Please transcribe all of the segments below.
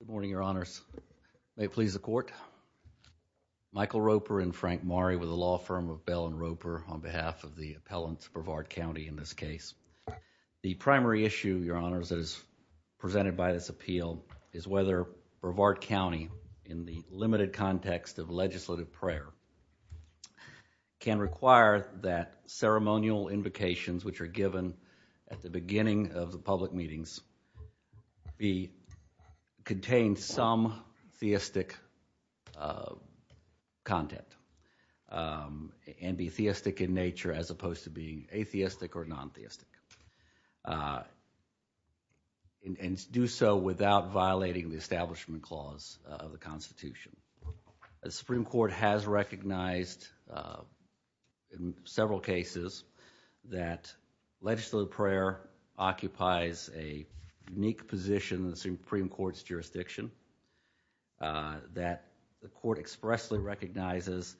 Good morning, Your Honors. May it please the Court. Michael Roper and Frank Maury with the law firm of Bell and Roper on behalf of the appellants of Brevard County in this case. The primary issue, Your Honors, that is presented by this appeal is whether Brevard County, in the limited context of legislative prayer, can require that ceremonial invocations which are given at the beginning of the public meetings contain some theistic content and be theistic in nature as opposed to being atheistic or non-theistic and do so without violating the Legislative prayer occupies a unique position in the Supreme Court's jurisdiction that the court expressly recognizes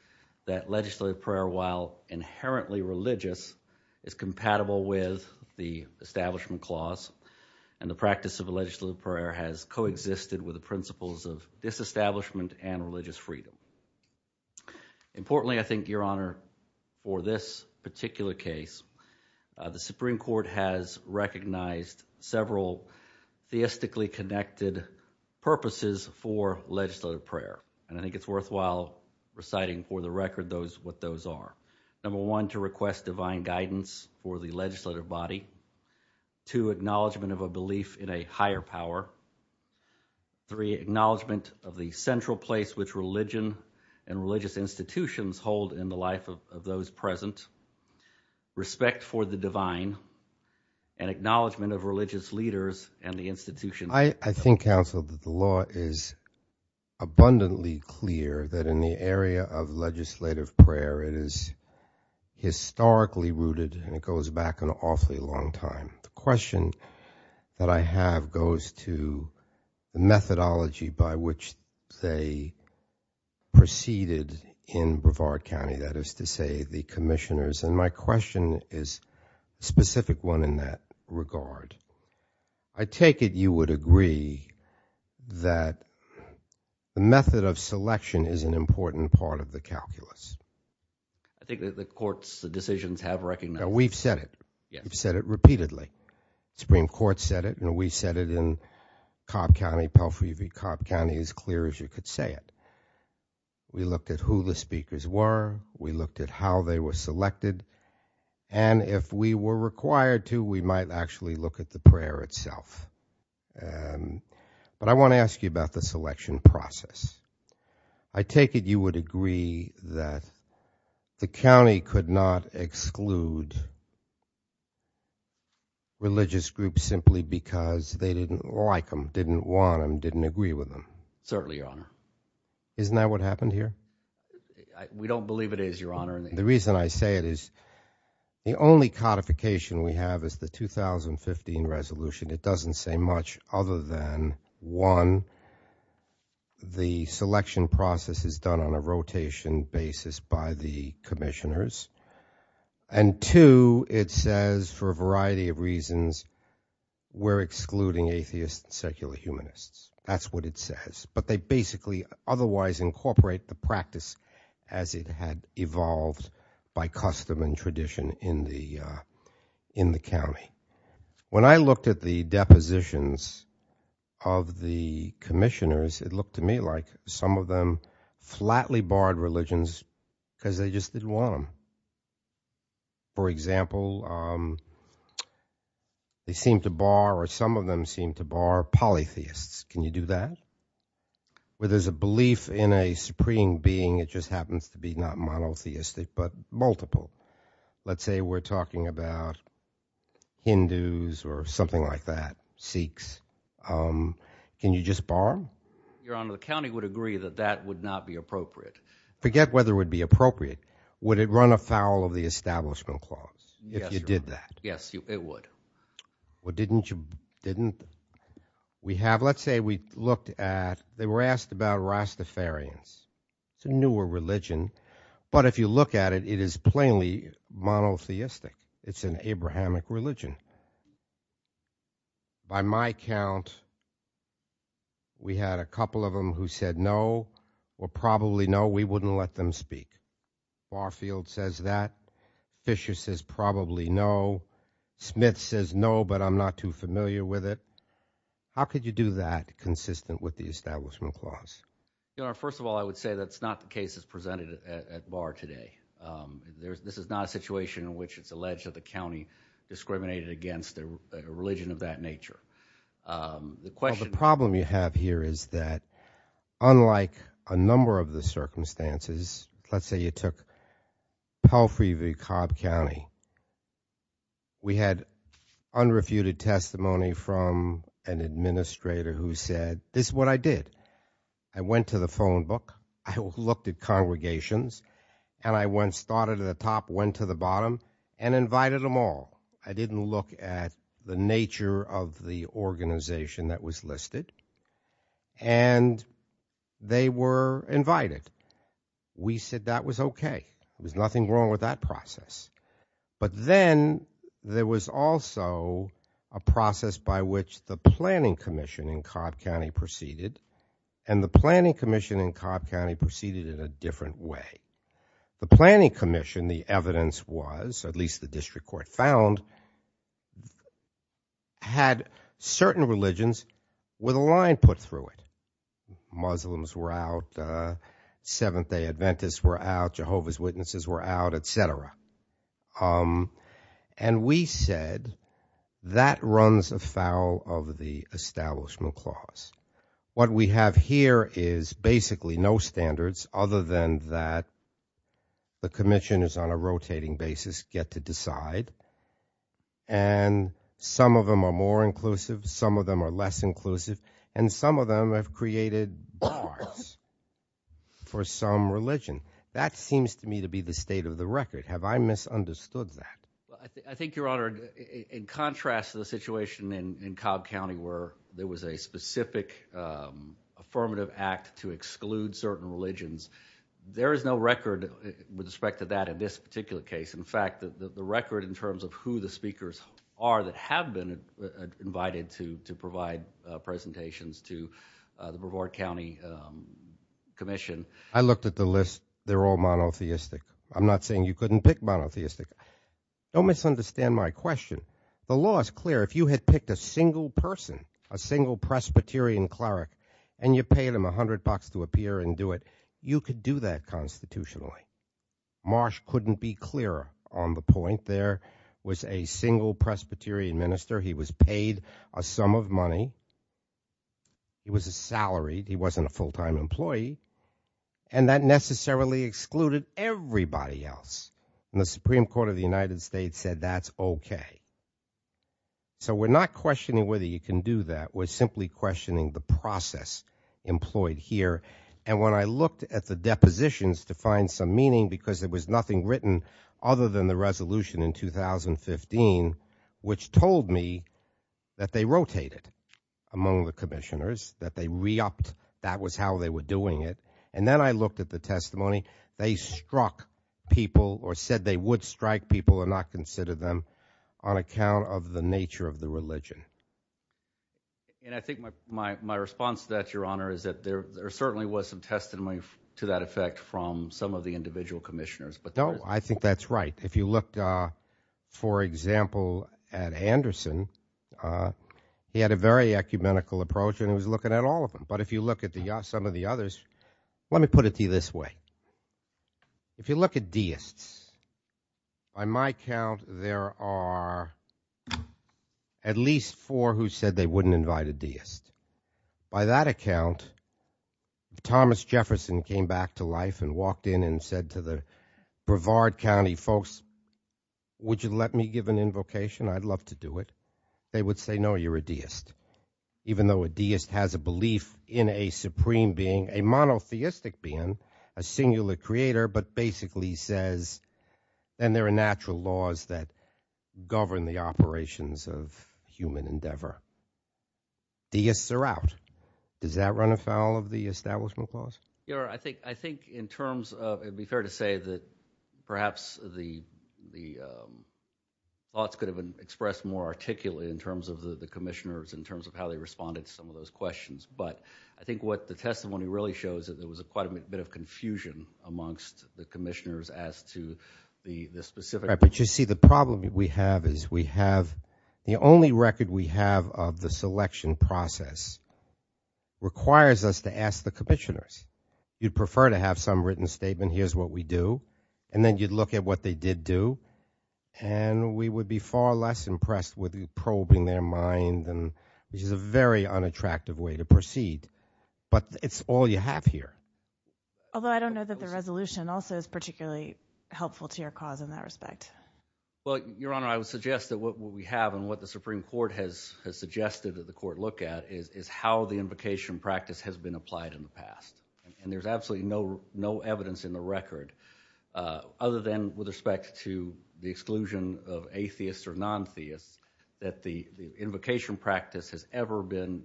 that legislative prayer, while inherently religious, is compatible with the establishment clause and the practice of legislative prayer has co-existed with the principles of disestablishment and religious freedom. Importantly, I think, Your Honor, for this particular case, the Supreme Court has recognized several theistically connected purposes for legislative prayer and I think it's worthwhile reciting for the record those what those are. Number one, to request divine guidance for the legislative body. Two, acknowledgement of a belief in a higher power. Three, acknowledgement of the central place which religion and religious institutions hold in the life of those present. Respect for the divine and acknowledgement of religious leaders and the institution. I think, counsel, that the law is abundantly clear that in the area of legislative prayer it is historically rooted and it goes back an awfully long time. The question that I have goes to the methodology by which they proceeded in Brevard County, that is to say the commissioners, and my question is a specific one in that regard. I take it you would agree that the method of selection is an important part of the calculus? I think that the court's decisions have recommended it. We've said it. We've said it repeatedly. The Supreme Court said it and we said it in Cobb County, Palfrey v. Cobb County, as clear as you could say it. We looked at who the speakers were, we looked at how they were selected, and if we were required to, we might actually look at the prayer itself. But I want to ask you about the selection process. I take it you would agree that the county could not exclude religious groups simply because they didn't like them, didn't want them, didn't agree with them? Certainly, your honor. Isn't that what happened here? We don't believe it is, your honor. The reason I say it is the only codification we have is the 2015 resolution. It doesn't say much other than, one, the selection process is done on a rotation basis by the commissioners, and two, it says for a variety of reasons we're excluding atheists and secular humanists. That's what it says, but they basically otherwise incorporate the practice as it had evolved by custom and tradition in the county. When I looked at the depositions of the commissioners, it looked to me like some of them flatly barred religions because they just didn't want them. For example, they seem to bar, or some of them seem to bar polytheists. Can you do that? Where there's a belief in a supreme being, it just happens to be not monotheistic, but multiple. Let's say we're talking about Hindus or something like that, Sikhs. Can you just bar them? Your honor, the county would agree that that would not be appropriate. Forget whether it would be appropriate. Would it run afoul of the establishment clause if you did that? Yes, it would. Well, didn't you, didn't we have, let's say we looked at, they were asked about Rastafarians. It's a newer religion, but if you look at it, it is plainly monotheistic. It's an Abrahamic religion. By my count, we had a couple of them who said no or probably no, we wouldn't let them speak. Barfield says that. Fisher says probably no. Smith says no, but I'm not too familiar with it. How could you do that consistent with the establishment clause? Your honor, first of all, I would say that's not the case as presented at bar today. This is not a situation in which it's alleged that the county discriminated against a religion of that nature. The question... here is that unlike a number of the circumstances, let's say you took Palfrey v. Cobb County. We had unrefuted testimony from an administrator who said, this is what I did. I went to the phone book. I looked at congregations and I went, started at the top, went to the bottom, and invited them all. I didn't look at the nature of the organization that was listed, and they were invited. We said that was okay. There's nothing wrong with that process. But then there was also a process by which the planning commission in Cobb County proceeded, and the planning commission in Cobb County proceeded in a different way. The planning commission, the evidence was, at least the district court found, had certain religions with a line put through it. Muslims were out, Seventh-day Adventists were out, Jehovah's Witnesses were out, etc. And we said that runs afoul of the establishment clause. What we have here is basically no standards other than that the commission is on side, and some of them are more inclusive, some of them are less inclusive, and some of them have created bars for some religion. That seems to me to be the state of the record. Have I misunderstood that? I think, your honor, in contrast to the situation in Cobb County where there was a specific affirmative act to exclude certain religions, there is no record with respect to that in this particular case. In fact, the record in terms of who the speakers are that have been invited to provide presentations to the Brevard County Commission. I looked at the list. They're all monotheistic. I'm not saying you couldn't pick monotheistic. Don't misunderstand my question. The law is clear. If you had picked a single person, a single Presbyterian cleric, and you on the point. There was a single Presbyterian minister. He was paid a sum of money. He was salaried. He wasn't a full-time employee. And that necessarily excluded everybody else. And the Supreme Court of the United States said that's okay. So we're not questioning whether you can do that. We're simply questioning the process employed here. And when I looked at the depositions to find some meaning because there was nothing written other than the resolution in 2015 which told me that they rotated among the commissioners, that they re-upped, that was how they were doing it. And then I looked at the testimony. They struck people or said they would strike people and not consider them on account of the nature of the religion. And I think my response to that, from some of the individual commissioners. No, I think that's right. If you looked, for example, at Anderson, he had a very ecumenical approach and he was looking at all of them. But if you look at some of the others, let me put it to you this way. If you look at deists, by my count there are at least four who said they wouldn't invite a deist. By that account, Thomas Jefferson came back to life and walked in and said to the Brevard County folks, would you let me give an invocation? I'd love to do it. They would say no, you're a deist. Even though a deist has a belief in a supreme being, a monotheistic being, a singular creator, but basically says then there are natural laws that govern the operations of human endeavor. Deists are out. Does that run afoul of the establishment clause? Your Honor, I think in terms of, it'd be fair to say that perhaps the thoughts could have expressed more articulately in terms of the commissioners, in terms of how they responded to some of those questions. But I think what the testimony really shows that there was quite a bit of confusion amongst the commissioners as to the specific. Right, but you see the problem we have is we have, the only record we have of the selection process requires us to ask the commissioners. You'd prefer to have some written statement, here's what we do, and then you'd look at what they did do, and we would be far less impressed with you probing their mind, which is a very unattractive way to proceed. But it's all you have here. Although I don't know that the resolution also is particularly helpful to your cause in that respect. Well, Your Honor, I was going to suggest that what we have and what the Supreme Court has suggested that the court look at is how the invocation practice has been applied in the past. And there's absolutely no evidence in the record, other than with respect to the exclusion of atheists or non-theists, that the invocation practice has ever been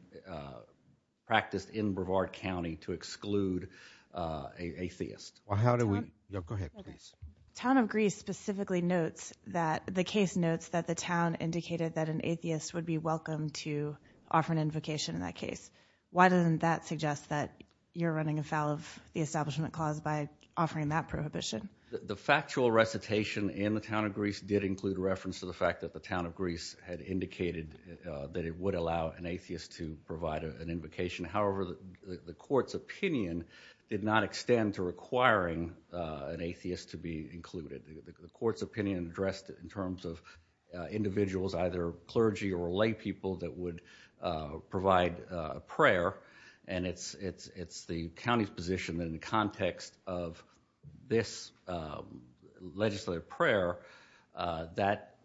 practiced in Brevard County to exclude a theist. Well, how do The factual recitation in the town of Greece did include reference to the fact that the town of Greece had indicated that it would allow an atheist to provide an invocation. However, the court's opinion did not extend to requiring an atheist to be included. The court's opinion addressed in terms of individuals, either clergy or lay people, that would provide a prayer. And it's the county's position in the context of this legislative prayer that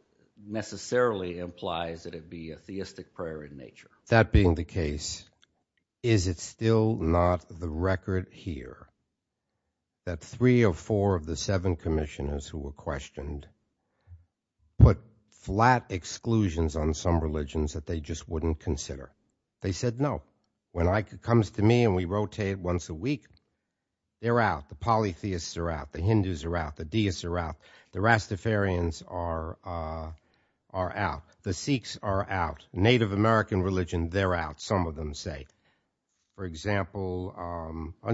necessarily implies that it be a theistic prayer in nature. That being the case, is it still not the record here that three or four of the seven commissioners who were questioned put flat exclusions on some religions that they just wouldn't consider? They said no. When it comes to me and we rotate once a week, they're out. The polytheists are out. The Hindus are out. The deists are out. The Rastafarians are out. The Sikhs are out. Native American religion, they're out, some of them say. For example,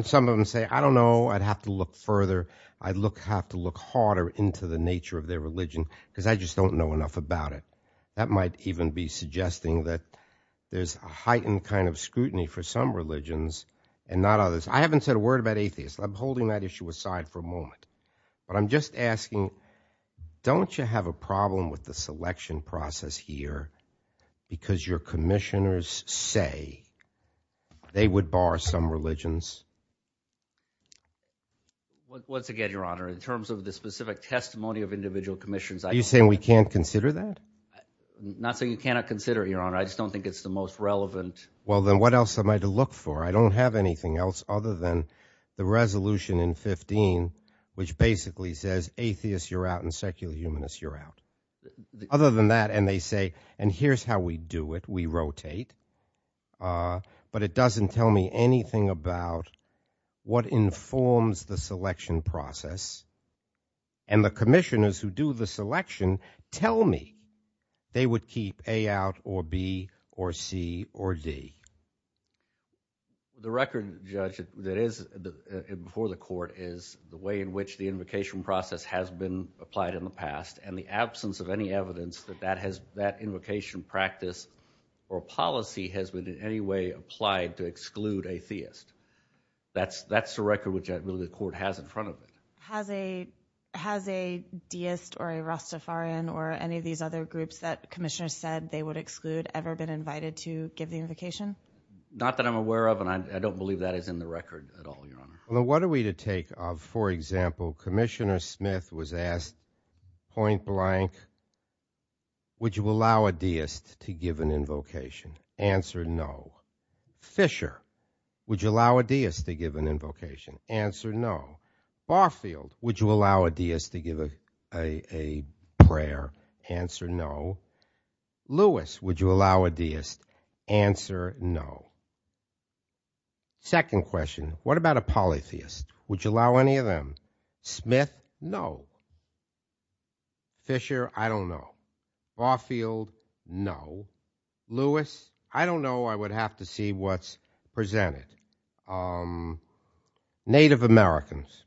some of them say, I don't know. I'd have to look further. I'd have to look harder into the nature of their religion because I just don't know enough about it. That might even be suggesting that there's a heightened kind of scrutiny for some religions and not others. I haven't said a word about atheists. I'm holding that issue aside for a moment, but I'm just asking, don't you have a problem with the selection process here because your they would bar some religions? Once again, your honor, in terms of the specific testimony of individual commissions, are you saying we can't consider that? Not saying you cannot consider it, your honor. I just don't think it's the most relevant. Well, then what else am I to look for? I don't have anything else other than the resolution in 15, which basically says atheists, you're out and secular humanists, you're out. Other than that, and they say, and here's how we do it. We rotate, but it doesn't tell me anything about what informs the selection process. And the commissioners who do the selection tell me they would keep A out or B or C or D. The record judge that is before the court is the way in which the invocation process has been applied in the past and the absence of any evidence that that has that invocation practice or policy has been in any way applied to exclude a theist. That's the record which really the court has in front of it. Has a deist or a Rastafarian or any of these other groups that commissioners said they would exclude ever been invited to give the invocation? Not that I'm aware of, and I don't believe that is in the record at all, your honor. What are we to take of, for example, Commissioner Smith was asked, point blank, would you allow a deist to give an invocation? Answer, no. Fisher, would you allow a deist to give an invocation? Answer, no. Barfield, would you allow a deist to give a prayer? Answer, no. Lewis, would you allow a deist? Answer, no. Second question, what about a polytheist? Would you allow any of them? Smith, no. Fisher, I don't know. Barfield, no. Lewis, I don't know. I would have to see what's presented. Native Americans,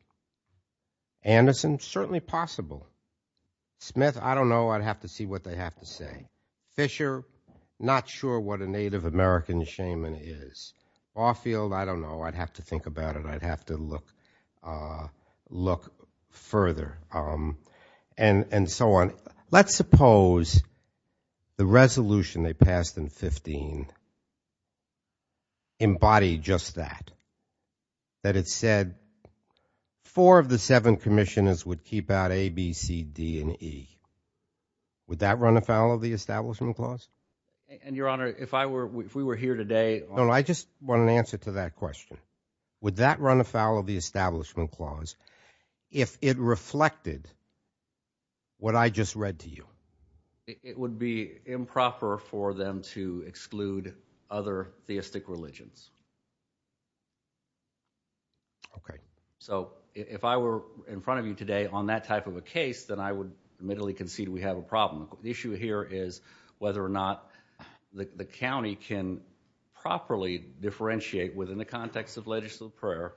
Anderson, certainly possible. Smith, I don't know. I'd have to see what they have to say. Fisher, not sure what a Native American shaman is. Barfield, I don't know. I'd have to think about it. I'd have to look further, and so on. Let's suppose the resolution they passed in 15 embodied just that, that it said four of the seven commissioners would keep out A, B, C, D, and E. Would that run afoul of the Establishment Clause? And, Your Honor, if I were, if we were here today. No, I just want an answer to that question. Would that run afoul of the Establishment Clause if it reflected what I just read to you? It would be improper for them to exclude other theistic religions. Okay, so if I were in front of you today on that type of a case, then I would admittedly concede we have a problem. The issue here is whether or not the county can properly differentiate within the context of legislative prayer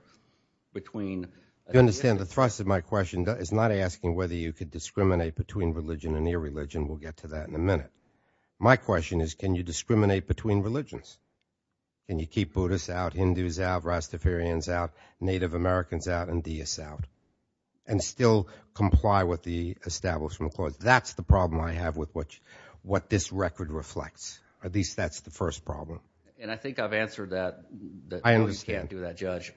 between. You understand the thrust of my question is not asking whether you could discriminate between religion and irreligion. We'll get to that in a minute. My question is, can you discriminate between religions? Can you keep Buddhists out, Hindus out, Rastafarians out, Native Americans out, and Deists out, and still comply with the Establishment Clause? That's the problem I have with what this record reflects. At least that's the first problem. And I think I've answered that. I understand. No, you can't do that, Judge.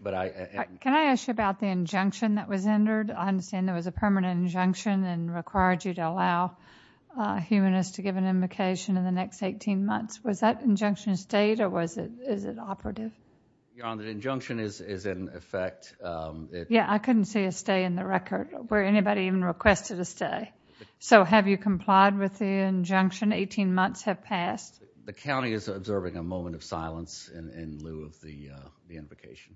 Can I ask you about the injunction that was entered? I understand there was a permanent injunction and required you to allow humanists to give an invocation in the next 18 months. Was that injunction stayed, or is it operative? Your Honor, the injunction is in effect. Yeah, I couldn't see a stay in the record where anybody even requested a stay. So have you complied with the injunction? 18 months have passed. The county is observing a moment of silence in lieu of the invocation.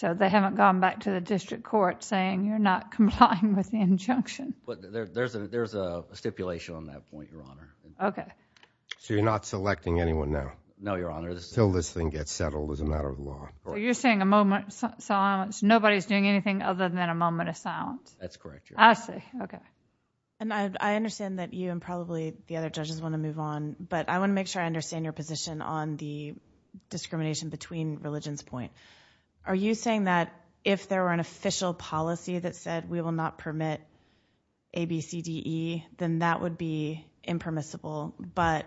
So they haven't gone back to the district court saying, you're not complying with the injunction. But there's a stipulation on that point, Your Honor. Okay. So you're not selecting anyone now? No, Your Honor. Until this thing gets settled as a matter of law. You're saying a moment of silence. Nobody's doing anything other than a moment of silence. That's correct, Your Honor. I see. Okay. And I understand that you and probably the other judges want to move on, but I want to make sure I understand your position on the discrimination between religion's point. Are you saying that if there were an official policy that said we will not permit ABCDE, then that would be impermissible? But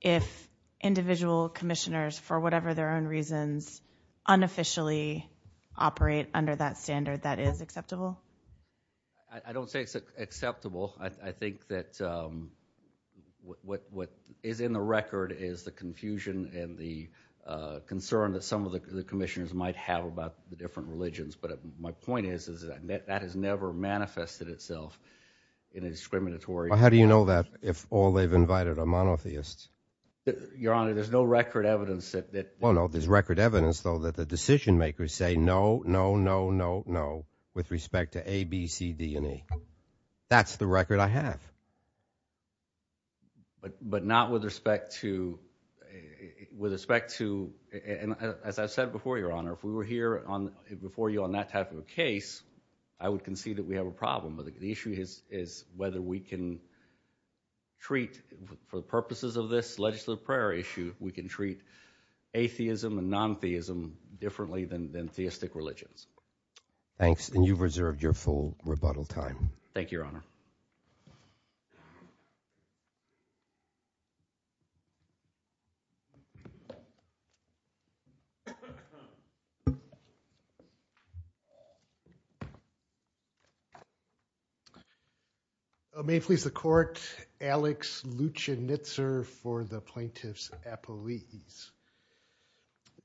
if individual commissioners, for whatever their own reasons, unofficially operate under that standard, that is acceptable? I don't say it's acceptable. I think that what is in the record is the confusion and the concern that some of the commissioners might have about the different religions. My point is that that has never manifested itself in a discriminatory way. How do you know that if all they've invited are monotheists? Your Honor, there's no record evidence that... Well, no, there's record evidence, though, that the decision makers say no, no, no, no, no, with respect to ABCDE. That's the record I have. But not with respect to... As I said before, Your Honor, if we were here before you on that type of a case, I would concede that we have a problem. But the issue is whether we can treat, for the purposes of this legislative prior issue, we can treat atheism and non-theism differently than theistic religions. Thanks, and you've reserved your full rebuttal time. Thank you, Your Honor. Your Honor, may it please the court, Alex Luchinitzer for the plaintiff's appellees.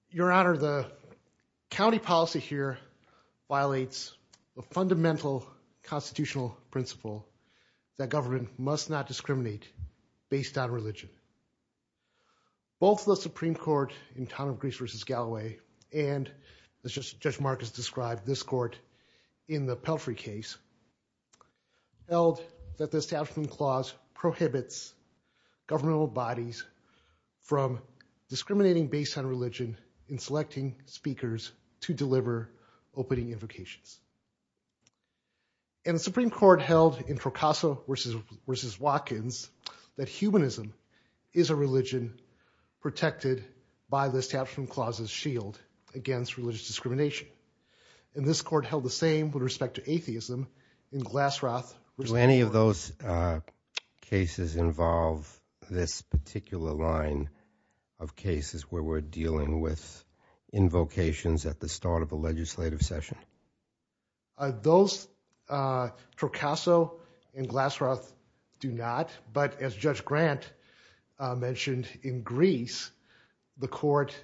Your Honor, the county policy here violates a fundamental constitutional principle that government must not discriminate based on religion. Both the Supreme Court in Town of Greece versus Galloway and, as Judge Marcus described, this court in the Pelfrey case held that the establishment clause prohibits governmental bodies from discriminating based on religion in selecting speakers to deliver opening invocations. And the Supreme Court held in Procasso versus Watkins that humanism is a religion protected by the establishment clause's shield against religious discrimination. And this court held the same with respect to atheism in Glassroth versus Procasso. Do any of those cases involve this particular line of cases where we're dealing with invocations at the start of a legislative session? Those, Procasso and Glassroth, do not. But as Judge Grant mentioned, in Greece, the court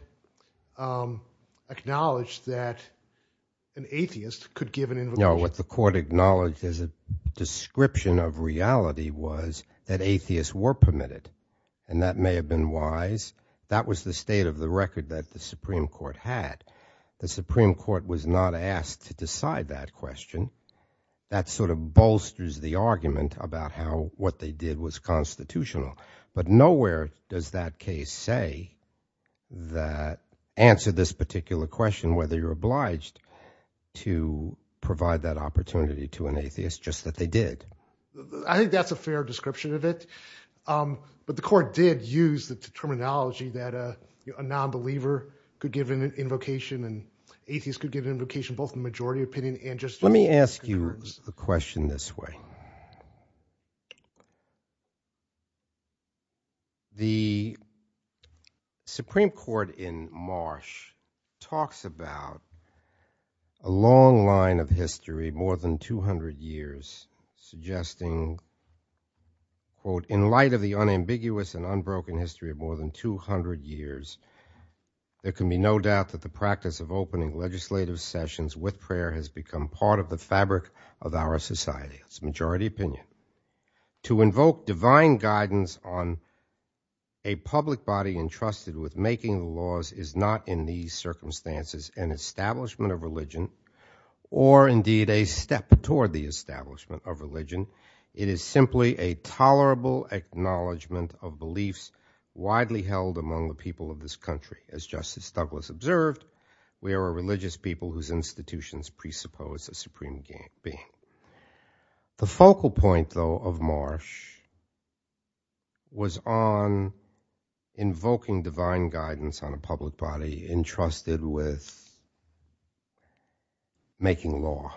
acknowledged that an atheist could give an invocation. No, what the court acknowledged as a description of reality was that atheists were permitted. And that may have been wise. That was the state of the record that the Supreme Court had. The Supreme Court was not asked to decide that question. That sort of bolsters the argument about how what they did was constitutional. But nowhere does that case say that answer this particular question, whether you're obliged to provide that opportunity to an atheist, just that they did. I think that's a fair description of it. But the court did use the terminology that a non-believer could give an invocation and atheists could give an invocation, both the majority opinion and just... Let me ask you a question this way. The Supreme Court in Marsh talks about a long line of history, more than 200 years, suggesting, quote, in light of the unambiguous and unbroken history of more than 200 years, there can be no doubt that the practice of opening legislative sessions with prayer has become part of the fabric of our society. It's a majority opinion. To invoke divine guidance on a public body entrusted with making the laws is not in these circumstances an establishment of religion or indeed a step toward the establishment of religion. It is simply a tolerable acknowledgement of beliefs widely held among the people of this country. As Justice Douglas observed, we are a religious people whose institutions presuppose a supreme being. The focal point, though, of Marsh was on invoking divine guidance on a public body entrusted with making law.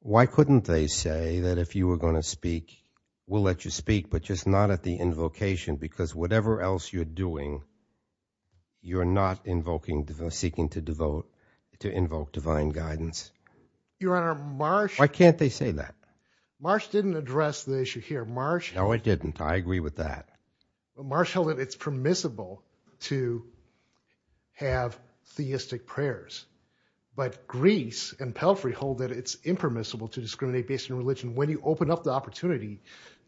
Why couldn't they say that if you were going to speak, we'll let you speak, but just not at the invocation? Because whatever else you're doing, you're not seeking to invoke divine guidance. Your Honor, Marsh- Why can't they say that? Marsh didn't address the issue here. Marsh- No, it didn't. I agree with that. Marsh held that it's permissible to have theistic prayers. But Greece and Pelfrey hold that it's impermissible to discriminate based on religion. When you open up the opportunity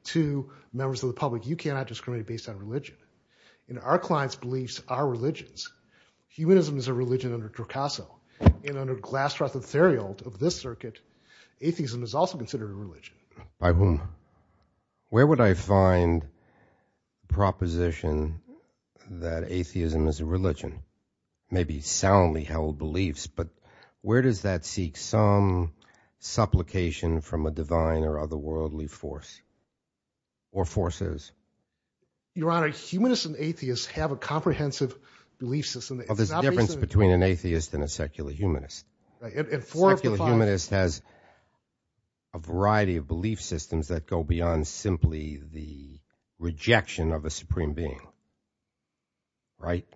to members of the public, you cannot discriminate based on religion. Our client's beliefs are religions. Humanism is a religion under Dracaso. And under Glasroth and Theriot of this circuit, atheism is also considered a religion. Justice Breyer- By whom? Where would I find proposition that atheism is a religion? Maybe soundly held beliefs, but where does that seek some supplication from a divine or otherworldly force or forces? Justice Breyer- Your Honor, humanists and atheists have a comprehensive belief system. Justice Breyer- There's a difference between an atheist and a secular humanist. And four of the five- Justice Breyer- Secular humanist has a variety of belief systems that go beyond simply the rejection of a supreme being, right?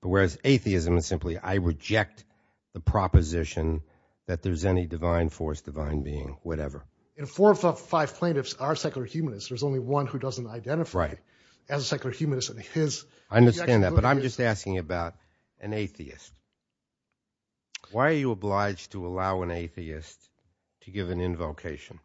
Whereas atheism is simply, I reject the proposition that there's any divine force, divine being, whatever. Justice Breyer- And four of the five plaintiffs are secular humanists. There's only one who doesn't identify as a secular humanist and his- Justice Breyer- I understand that, but I'm just asking about an atheist. Why are you obliged to allow an atheist to give an invocation?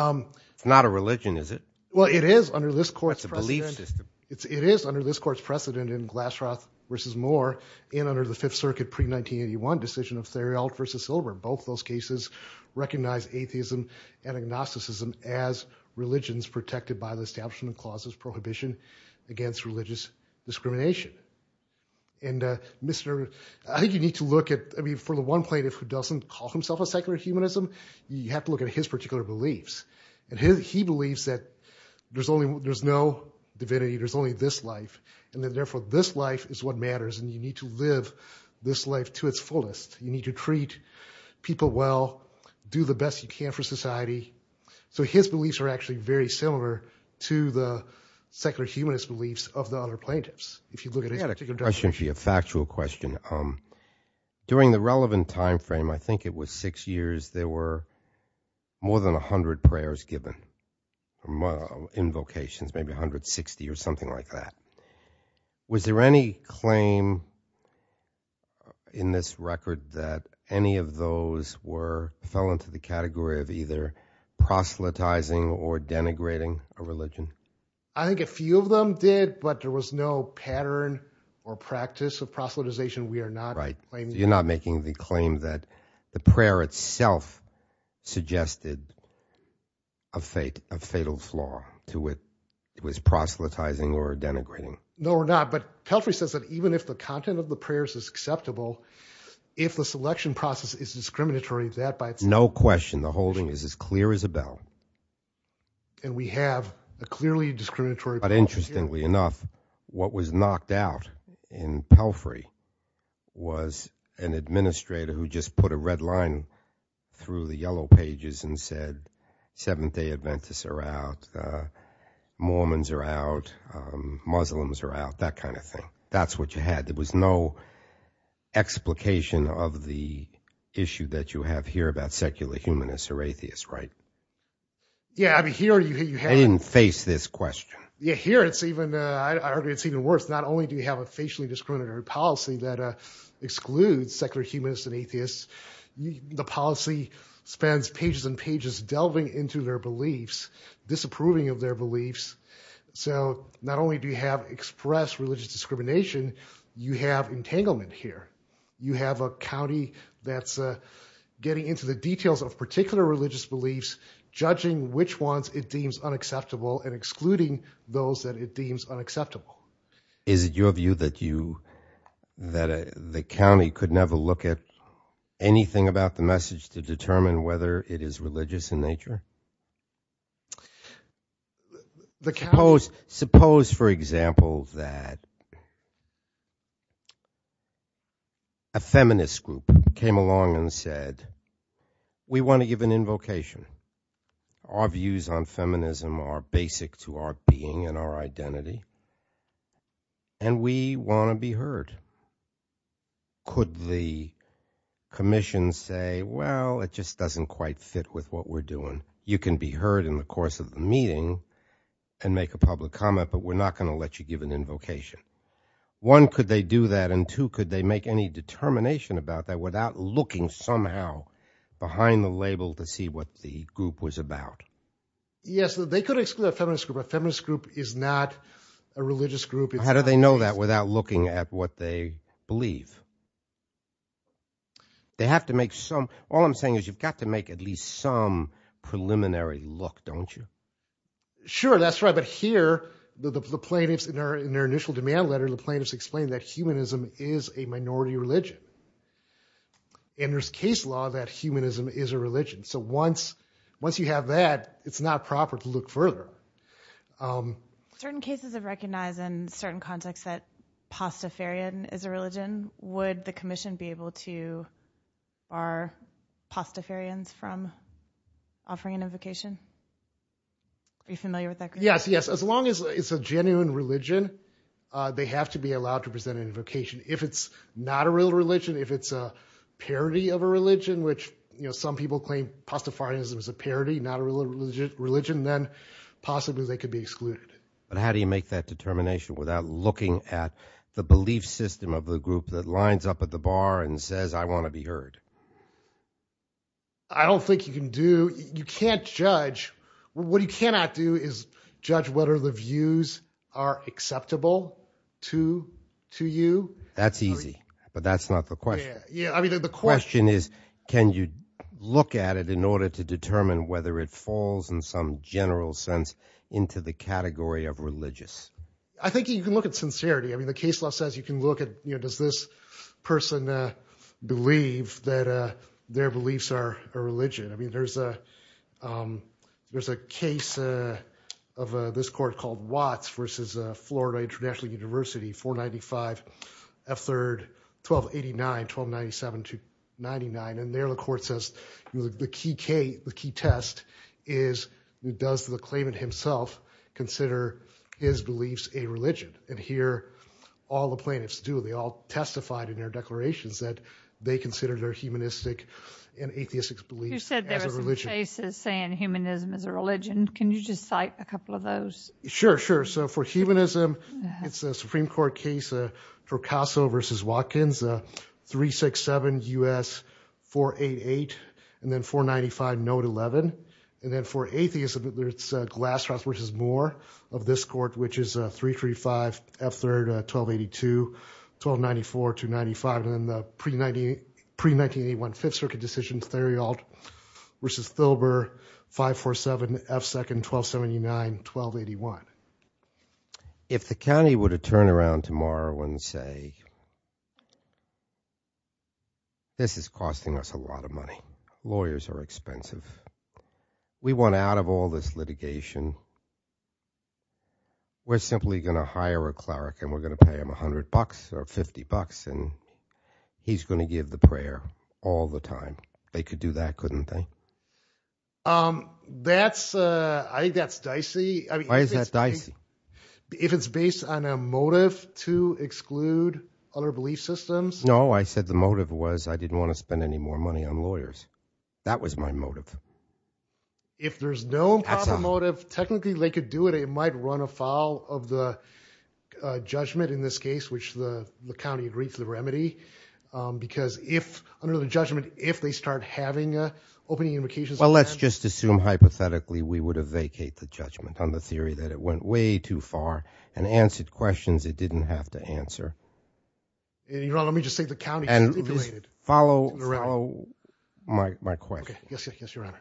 It's not a religion, is it? Justice Breyer- Well, it is under this court's precedent- Justice Breyer- It's a belief system. Justice Breyer- It is under this court's precedent in Glasroth versus Moore, and under the Fifth Circuit pre-1981 decision of Theriault versus Silver. Both those cases recognize atheism and agnosticism as religions protected by the establishment of clauses prohibition against religious discrimination. And Mr.- I think you need to look at- I mean, for the one plaintiff who doesn't call himself a secular humanism, you have to look at his particular beliefs. And he believes that there's only- there's no divinity, there's only this life. And that, therefore, this life is what matters. And you need to live this life to its fullest. You need to treat people well, do the best you can for society. So his beliefs are actually very similar to the secular humanist beliefs of the other plaintiffs. If you look at his particular- I had a question for you, a factual question. During the relevant time frame, I think it was six years, there were more than 100 prayers given. Invocations, maybe 160 or something like that. Was there any claim in this record that any of those were- fell into the category of either proselytizing or denigrating a religion? I think a few of them did, but there was no pattern or practice of proselytization. We are not- Right. You're not making the claim that the prayer itself suggested a fatal flaw to it. It was proselytizing or denigrating. No, we're not. But Pelfrey says that even if the content of the prayers is acceptable, if the selection process is discriminatory, that by itself- No question. The holding is as clear as a bell. And we have a clearly discriminatory- But interestingly enough, what was knocked out in Pelfrey was an administrator who just put a red line through the yellow pages and said, Seventh-day Adventists are out, Mormons are out, Muslims are out, that kind of thing. That's what you had. There was no explication of the issue that you have here about secular humanists or atheists, right? Yeah, I mean, here you have- I didn't face this question. Yeah, here it's even- I argue it's even worse. Not only do you have a facially discriminatory policy that excludes secular humanists and atheists, the policy spans pages and pages delving into their beliefs, disapproving of their beliefs. So not only do you have expressed religious discrimination, you have entanglement here. You have a county that's getting into the details of particular religious beliefs, judging which ones it deems unacceptable and excluding those that it deems unacceptable. Is it your view that the county could never look at anything about the message to determine whether it is religious in nature? Suppose, for example, that a feminist group came along and said, We want to give an invocation. Our views on feminism are basic to our being and our identity. And we want to be heard. Could the commission say, Well, it just doesn't quite fit with what we're doing. You can be heard in the course of the meeting and make a public comment, but we're not going to let you give an invocation. One, could they do that? And two, could they make any determination about that without looking somehow behind the label to see what the group was about? Yes, they could exclude a feminist group. A feminist group is not a religious group. How do they know that without looking at what they believe? All I'm saying is you've got to make at least some preliminary look, don't you? Sure, that's right. But here, the plaintiffs in their initial demand letter, the plaintiffs explained that humanism is a minority religion. And there's case law that humanism is a religion. So once you have that, it's not proper to look further. Certain cases have recognized in certain contexts that Pastafarianism is a religion. Would the commission be able to bar Pastafarians from offering an invocation? Are you familiar with that? Yes, yes. As long as it's a genuine religion, they have to be allowed to present an invocation. If it's not a real religion, if it's a parody of a religion, which some people claim Pastafarianism is a parody, not a real religion, then possibly they could be excluded. But how do you make that determination without looking at the belief system of the group that lines up at the bar and says, I want to be heard? I don't think you can do, you can't judge. What you cannot do is judge whether the views are acceptable to you. That's easy. But that's not the question. Yeah, I mean, the question is, can you look at it in order to determine whether it falls in some general sense into the category of religious? I think you can look at sincerity. I mean, the case law says you can look at, you know, does this person believe that their beliefs are a religion? I mean, there's a case of this court called Watts versus Florida International University, 495 F3, 1289, 1297 to 99. And there the court says the key test is does the claimant himself consider his beliefs a religion? And here, all the plaintiffs do. They all testified in their declarations that they consider their humanistic and atheistic beliefs as a religion. You said there were some cases saying humanism is a religion. Can you just cite a couple of those? Sure, sure. For humanism, it's a Supreme Court case, Torcaso versus Watkins, 367 U.S., 488, and then 495, note 11. And then for atheism, it's Glasshouse versus Moore of this court, which is 335 F3, 1282, 1294 to 95. And then the pre-1981 Fifth Circuit decision, Theriault versus Thilber, 547 F2, 1279, 1281. If the county were to turn around tomorrow and say, this is costing us a lot of money. Lawyers are expensive. We want out of all this litigation. We're simply going to hire a cleric, and we're going to pay him $100 or $50, and he's going to give the prayer all the time. They could do that, couldn't they? That's, I think that's dicey. Why is that dicey? If it's based on a motive to exclude other belief systems? No, I said the motive was I didn't want to spend any more money on lawyers. That was my motive. If there's no motive, technically they could do it. It might run afoul of the judgment in this case, which the county agreed to the remedy. Because if under the judgment, if they start having opening invocations. Well, let's just assume hypothetically, we would have vacate the judgment on the and answered questions it didn't have to answer. Your Honor, let me just say the county. And follow my question. Okay, yes, your Honor.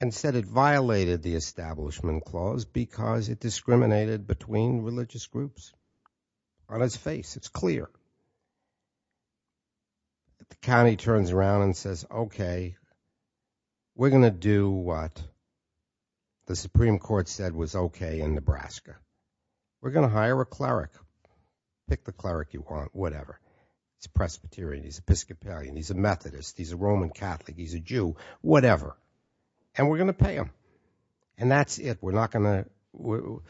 And said it violated the establishment clause because it discriminated between religious groups. On his face, it's clear. The county turns around and says, okay, we're going to do what? The Supreme Court said was okay in Nebraska. We're going to hire a cleric, pick the cleric you want, whatever. It's Presbyterian, he's Episcopalian, he's a Methodist, he's a Roman Catholic, he's a Jew, whatever, and we're going to pay him. And that's it. We're not going to,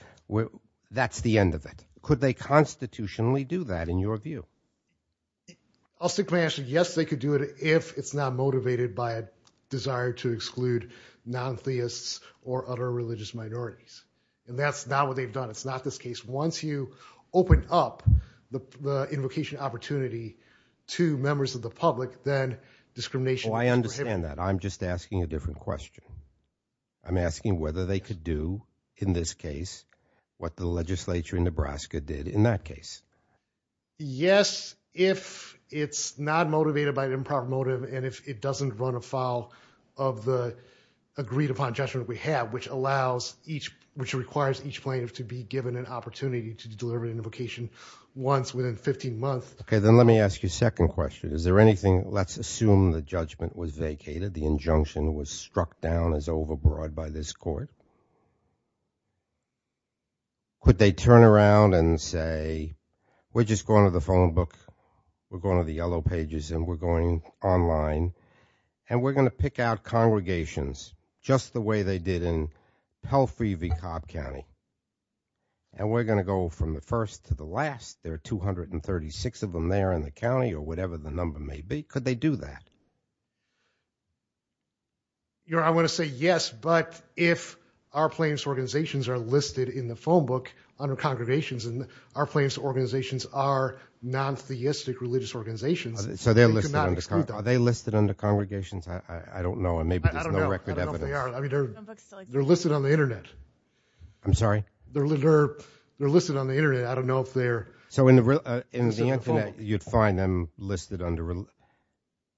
that's the end of it. Could they constitutionally do that in your view? I'll simply answer, yes, they could do it if it's not motivated by a desire to exclude non-theists or other religious minorities. And that's not what they've done. It's not this case. Once you open up the invocation opportunity to members of the public, then discrimination. I understand that. I'm just asking a different question. I'm asking whether they could do, in this case, what the legislature in Nebraska did in that case. Yes, if it's not motivated by an improper motive and if it doesn't run afoul of the agreed upon judgment we have, which allows each, which requires each plaintiff to be given an opportunity to deliver an invocation once within 15 months. Okay, then let me ask you a second question. Is there anything, let's assume the judgment was vacated, the injunction was struck down as overbroad by this court. Could they turn around and say, we're just going to the phone book, we're going to the yellow pages, and we're going online, and we're going to pick out congregations just the way they did in Palfrey v. Cobb County, and we're going to go from the first to the last. There are 236 of them there in the county or whatever the number may be. Could they do that? You know, I want to say yes, but if our plaintiffs' organizations are listed in the phone book under congregations and our plaintiffs' organizations are non-theistic religious organizations, they could not exclude them. So they're listed under congregations? Are they listed under congregations? I don't know, and maybe there's no record evidence. I don't know if they are. I mean, they're listed on the internet. I'm sorry? They're listed on the internet. I don't know if they're listed on the phone. So in the internet, you'd find them listed under, if they're listed on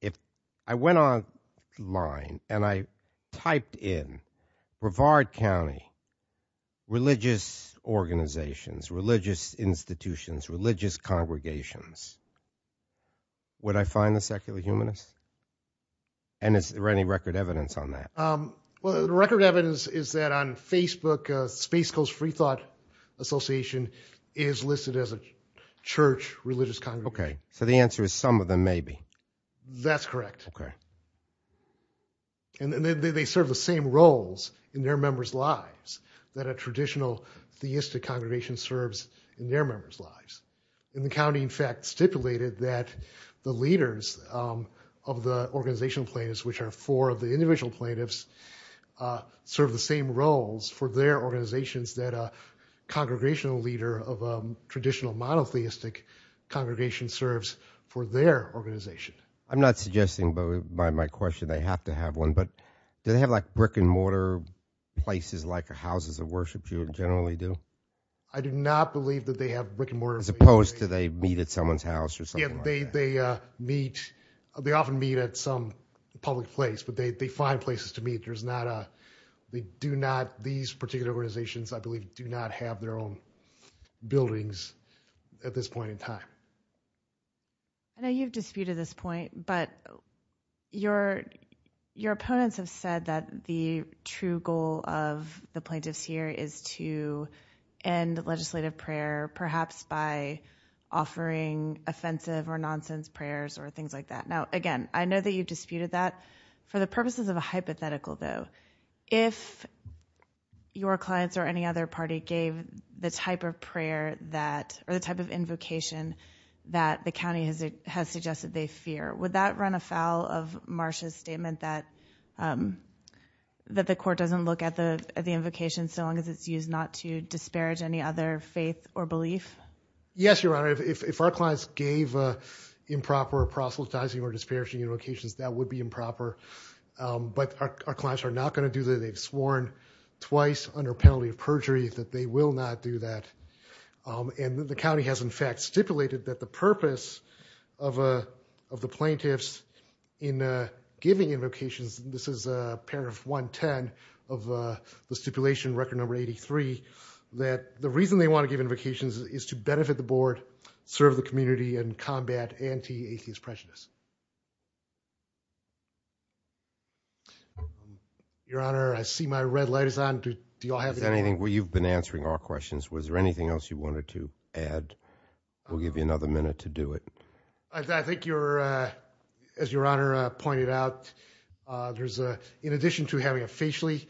the internet, I went online and I typed in Brevard County religious organizations, religious institutions, religious congregations. Would I find the secular humanists? And is there any record evidence on that? Well, the record evidence is that on Facebook, Space Coast Freethought Association is listed as a church religious congregation. Okay. So the answer is some of them may be. That's correct. And they serve the same roles in their members' lives that a traditional theistic congregation serves in their members' lives. And the county, in fact, stipulated that the leaders of the organizational plaintiffs, which are four of the individual plaintiffs, serve the same roles for their organizations that a congregational leader of a traditional monotheistic congregation serves for their organization. I'm not suggesting, but by my question, they have to have one, but do they have like brick and mortar places like houses of worship? Do you generally do? I do not believe that they have brick and mortar. As opposed to they meet at someone's house or something like that? They meet, they often meet at some public place, but they find places to meet. There's not a, they do not, these particular organizations, I believe, do not have their own buildings at this point in time. I know you've disputed this point, but your opponents have said that the true goal of the plaintiffs here is to end legislative prayer, perhaps by offering offensive or nonsense prayers or things like that. Now, again, I know that you've disputed that. For the purposes of a hypothetical, though, if your clients or any other party gave the type of invocation that the county has suggested they fear, would that run afoul of Marsha's statement that the court doesn't look at the invocation so long as it's used not to disparage any other faith or belief? Yes, Your Honor. If our clients gave improper proselytizing or disparaging invocations, that would be improper, but our clients are not going to do that. They've sworn twice under penalty of perjury that they will not do that. And the county has, in fact, stipulated that the purpose of the plaintiffs in giving invocations, this is paragraph 110 of the stipulation, record number 83, that the reason they want to give invocations is to benefit the board, serve the community, and combat anti-atheist prejudice. Your Honor, I see my red light is on. Do you all have anything? You've been answering our questions. Was there anything else you wanted to add? We'll give you another minute to do it. I think you're, as Your Honor pointed out, there's, in addition to having a facially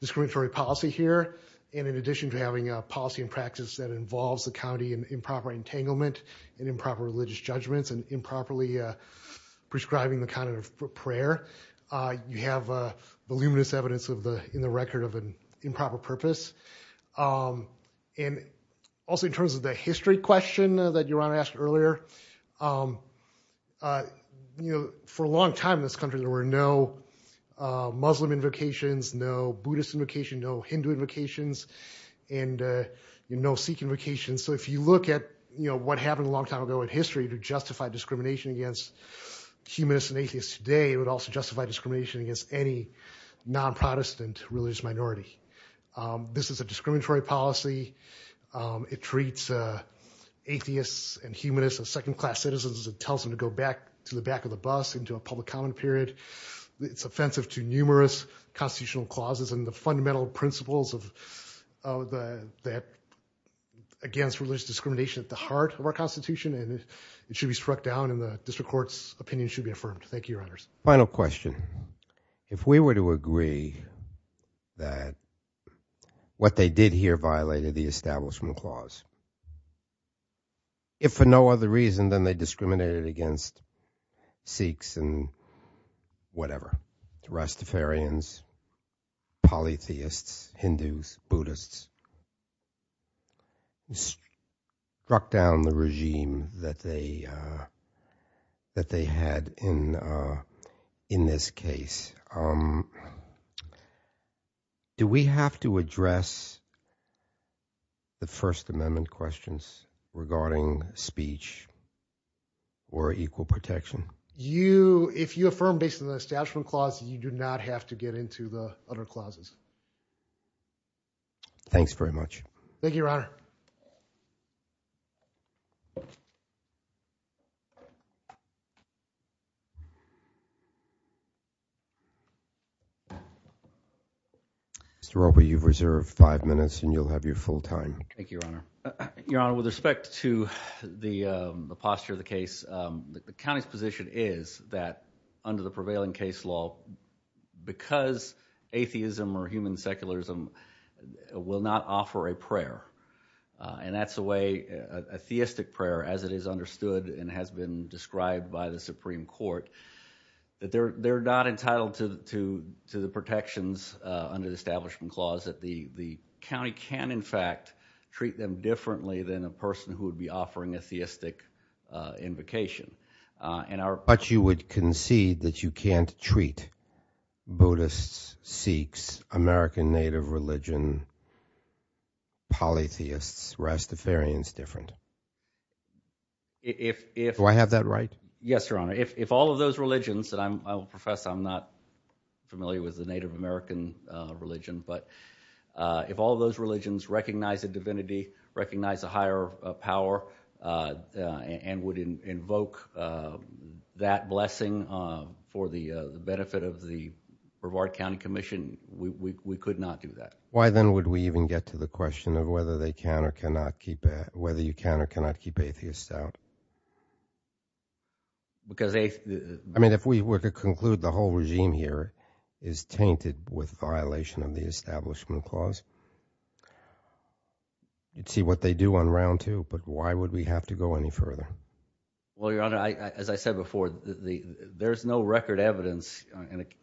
discriminatory policy here, and in addition to having a policy and practice that involves the county in improper entanglement and improper religious judgments and improperly prescribing the kind of prayer, you have voluminous evidence in the record of an improper purpose. And also in terms of the history question that Your Honor asked earlier, for a long time in this country, there were no Muslim invocations, no Buddhist invocation, no Hindu invocations, and no Sikh invocation. So if you look at what happened a long time ago in history to justify discrimination against humanists and atheists today, it would also justify discrimination against any non-Protestant religious minority. This is a discriminatory policy. It treats atheists and humanists as second-class citizens. It tells them to go back to the back of the bus into a public comment period. It's offensive to numerous constitutional clauses and the fundamental principles against religious discrimination at the heart of our Constitution. And it should be struck down, and the district court's opinion should be affirmed. Thank you, Your Honors. Final question. If we were to agree that what they did here violated the Establishment Clause, if for no other reason than they discriminated against Sikhs and whatever, Rastafarians, polytheists, Hindus, Buddhists, struck down the regime that they had in this case, do we have to address the First Amendment questions regarding speech or equal protection? You, if you affirm based on the Establishment Clause, you do not have to get into the other clauses. Thanks very much. Thank you, Your Honor. Mr. Roby, you've reserved five minutes and you'll have your full time. Thank you, Your Honor. Your Honor, with respect to the posture of the case, the county's position is that under the prevailing case law, because atheism or human secularism will not offer a prayer, and that's a way, a theistic prayer as it is understood and has been described by the Supreme Court, that they're not entitled to the protections under the Establishment Clause, that the county can, in fact, treat them differently than a person who would be offering a theistic invocation. But you would concede that you can't treat Buddhists, Sikhs, American Native religion, polytheists, Rastafarians different? Do I have that right? Yes, Your Honor. If all of those religions, and I will profess I'm not familiar with the Native American religion, but if all those religions recognize the divinity, recognize a higher power, and would invoke that blessing for the benefit of the Brevard County Commission, we could not do that. Why then would we even get to the question of whether they can or cannot keep, whether you can or cannot keep atheists out? Because they, I mean, if we were to conclude the whole regime here is tainted with violation of the Establishment Clause, you'd see what they do on round two. But why would we have to go any further? Well, Your Honor, as I said before, there's no record evidence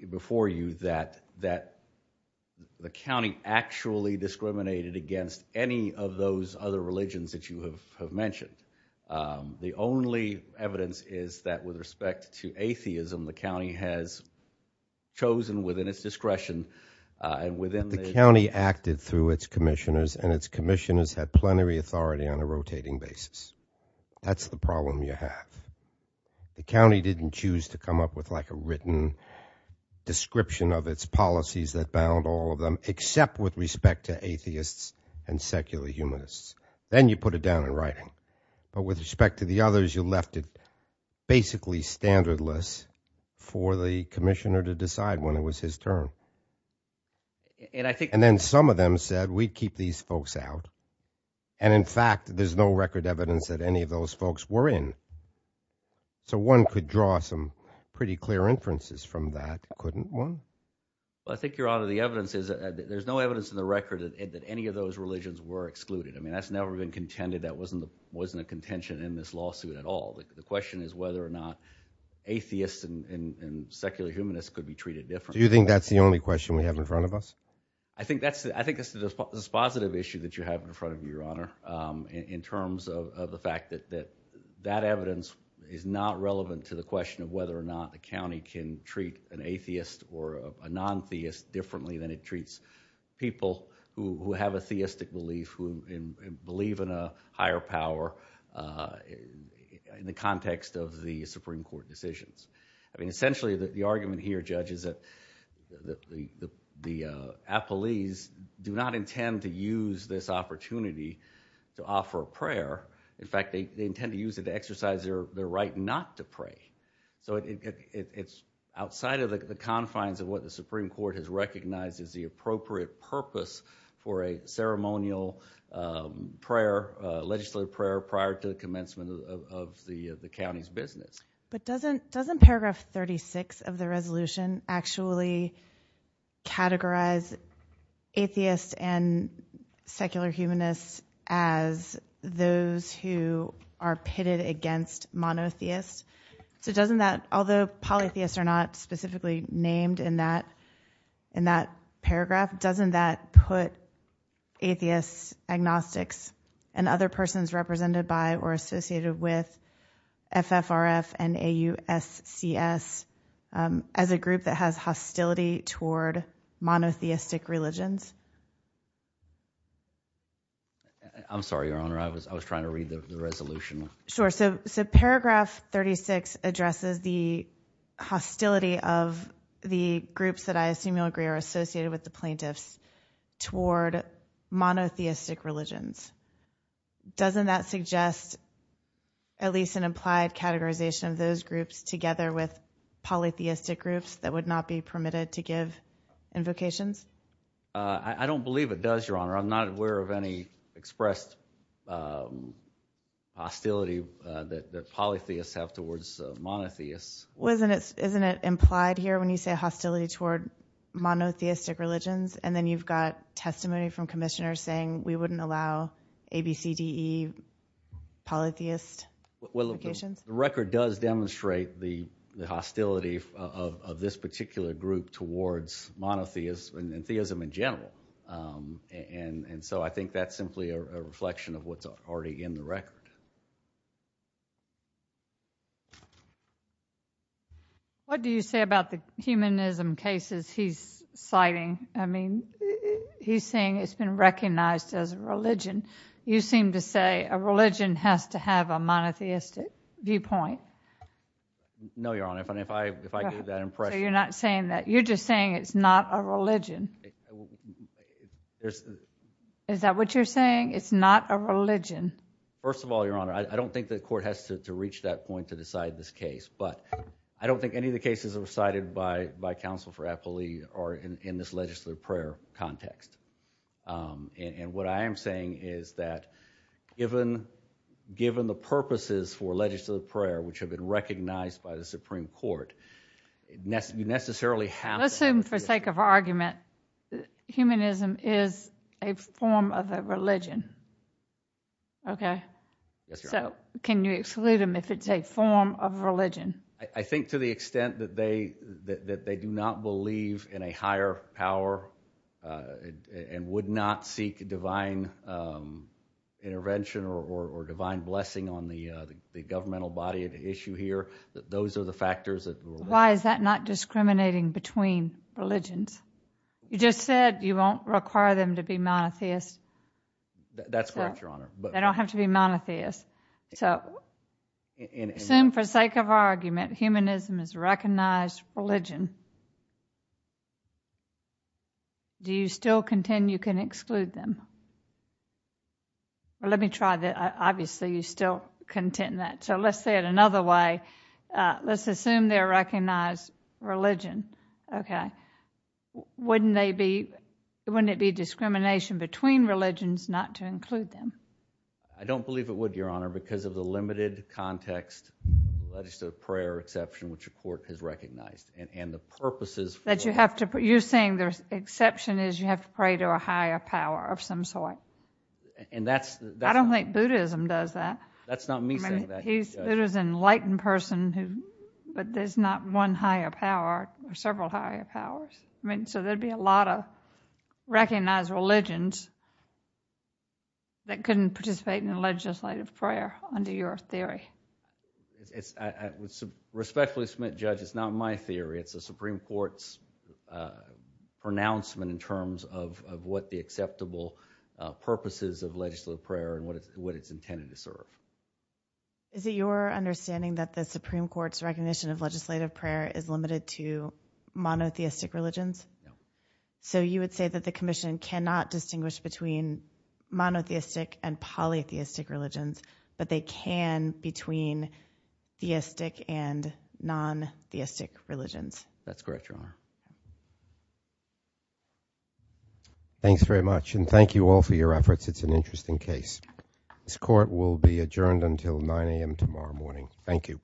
before you that the county actually discriminated against any of those other religions that you have mentioned. The only evidence is that with respect to atheism, the county has chosen within its discretion and within the county acted through its commissioners and its commissioners had plenary authority on a rotating basis. That's the problem you have. The county didn't choose to come up with like a written description of its policies that bound all of them, except with respect to atheists and secular humanists. Then you put it down in writing. But with respect to the others, you left it basically standardless for the commissioner to decide when it was his turn. And then some of them said, we'd keep these folks out. And in fact, there's no record evidence that any of those folks were in. So one could draw some pretty clear inferences from that, couldn't one? Well, I think, Your Honor, the evidence is that there's no evidence in the record that any of those religions were excluded. That's never been contended. That wasn't a contention in this lawsuit at all. The question is whether or not atheists and secular humanists could be treated differently. Do you think that's the only question we have in front of us? I think that's the dispositive issue that you have in front of you, Your Honor, in terms of the fact that that evidence is not relevant to the question of whether or not the county can treat an atheist or a non-theist differently than it treats people who have a theistic belief, who believe in a higher power in the context of the Supreme Court decisions. I mean, essentially, the argument here, Judge, is that the appellees do not intend to use this opportunity to offer a prayer. In fact, they intend to use it to exercise their right not to pray. So it's outside of the confines of what the Supreme Court has recognized as the appropriate purpose for a ceremonial prayer, legislative prayer, prior to the commencement of the county's business. But doesn't paragraph 36 of the resolution actually categorize atheists and secular humanists as those who are pitted against monotheists? So doesn't that, although polytheists are not specifically named in that paragraph, doesn't that put atheists, agnostics, and other persons represented by or associated with FFRF and AUSCS as a group that has hostility toward monotheistic religions? I'm sorry, Your Honor. I was trying to read the resolution. Sure. So paragraph 36 addresses the hostility of the groups that I assume you'll agree are associated with the plaintiffs toward monotheistic religions. Doesn't that suggest at least an implied categorization of those groups together with polytheistic groups that would not be permitted to give invocations? I don't believe it does, Your Honor. I'm not aware of any expressed hostility that polytheists have towards monotheists. Isn't it implied here when you say hostility toward monotheistic religions and then you've got testimony from commissioners saying we wouldn't allow ABCDE polytheist invocations? The record does demonstrate the hostility of this particular group towards monotheists and theism in general, and so I think that's simply a reflection of what's already in the record. What do you say about the humanism cases he's citing? I mean, he's saying it's been recognized as a religion. You seem to say a religion has to have a monotheistic viewpoint. No, Your Honor, if I get that impression. You're just saying it's not a religion. Is that what you're saying? It's not a religion. First of all, Your Honor, I don't think the court has to reach that point to decide this case, but I don't think any of the cases recited by counsel for Applely are in this legislative prayer context. And what I am saying is that given the purposes for legislative prayer which have been recognized by the Supreme Court, you necessarily have to... Let's assume for sake of argument, humanism is a form of a religion, okay? Yes, Your Honor. So can you exclude them if it's a form of religion? I think to the extent that they do not believe in a higher power and would not seek divine intervention or divine blessing on the governmental body of the issue here, those are the factors that... Why is that not discriminating between religions? You just said you won't require them to be monotheist. That's correct, Your Honor, but... They don't have to be monotheist. So assume for sake of argument, humanism is a recognized religion. Do you still contend you can exclude them? Well, let me try that. Obviously, you still contend that. So let's say it another way. Let's assume they're a recognized religion, okay? Wouldn't it be discrimination between religions not to include them? I don't believe it would, Your Honor, because of the limited context legislative prayer exception which the Court has recognized and the purposes for... That you have to... You're saying the exception is you have to pray to a higher power of some sort. And that's... I don't think Buddhism does that. That's not me saying that. He's Buddha's enlightened person who... But there's not one higher power or several higher powers. I mean, so there'd be a lot of recognized religions that couldn't participate in the legislative prayer under your theory. Respectfully submit, Judge, it's not my theory. It's the Supreme Court's pronouncement in terms of what the acceptable purposes of legislative prayer and what it's intended to serve. Is it your understanding that the Supreme Court's recognition of legislative prayer is limited to monotheistic religions? So you would say that the Commission cannot distinguish between monotheistic and polytheistic religions, but they can between theistic and non-theistic religions? That's correct, Your Honor. Thanks very much. And thank you all for your efforts. It's an interesting case. This Court will be adjourned until 9 a.m. tomorrow morning. Thank you.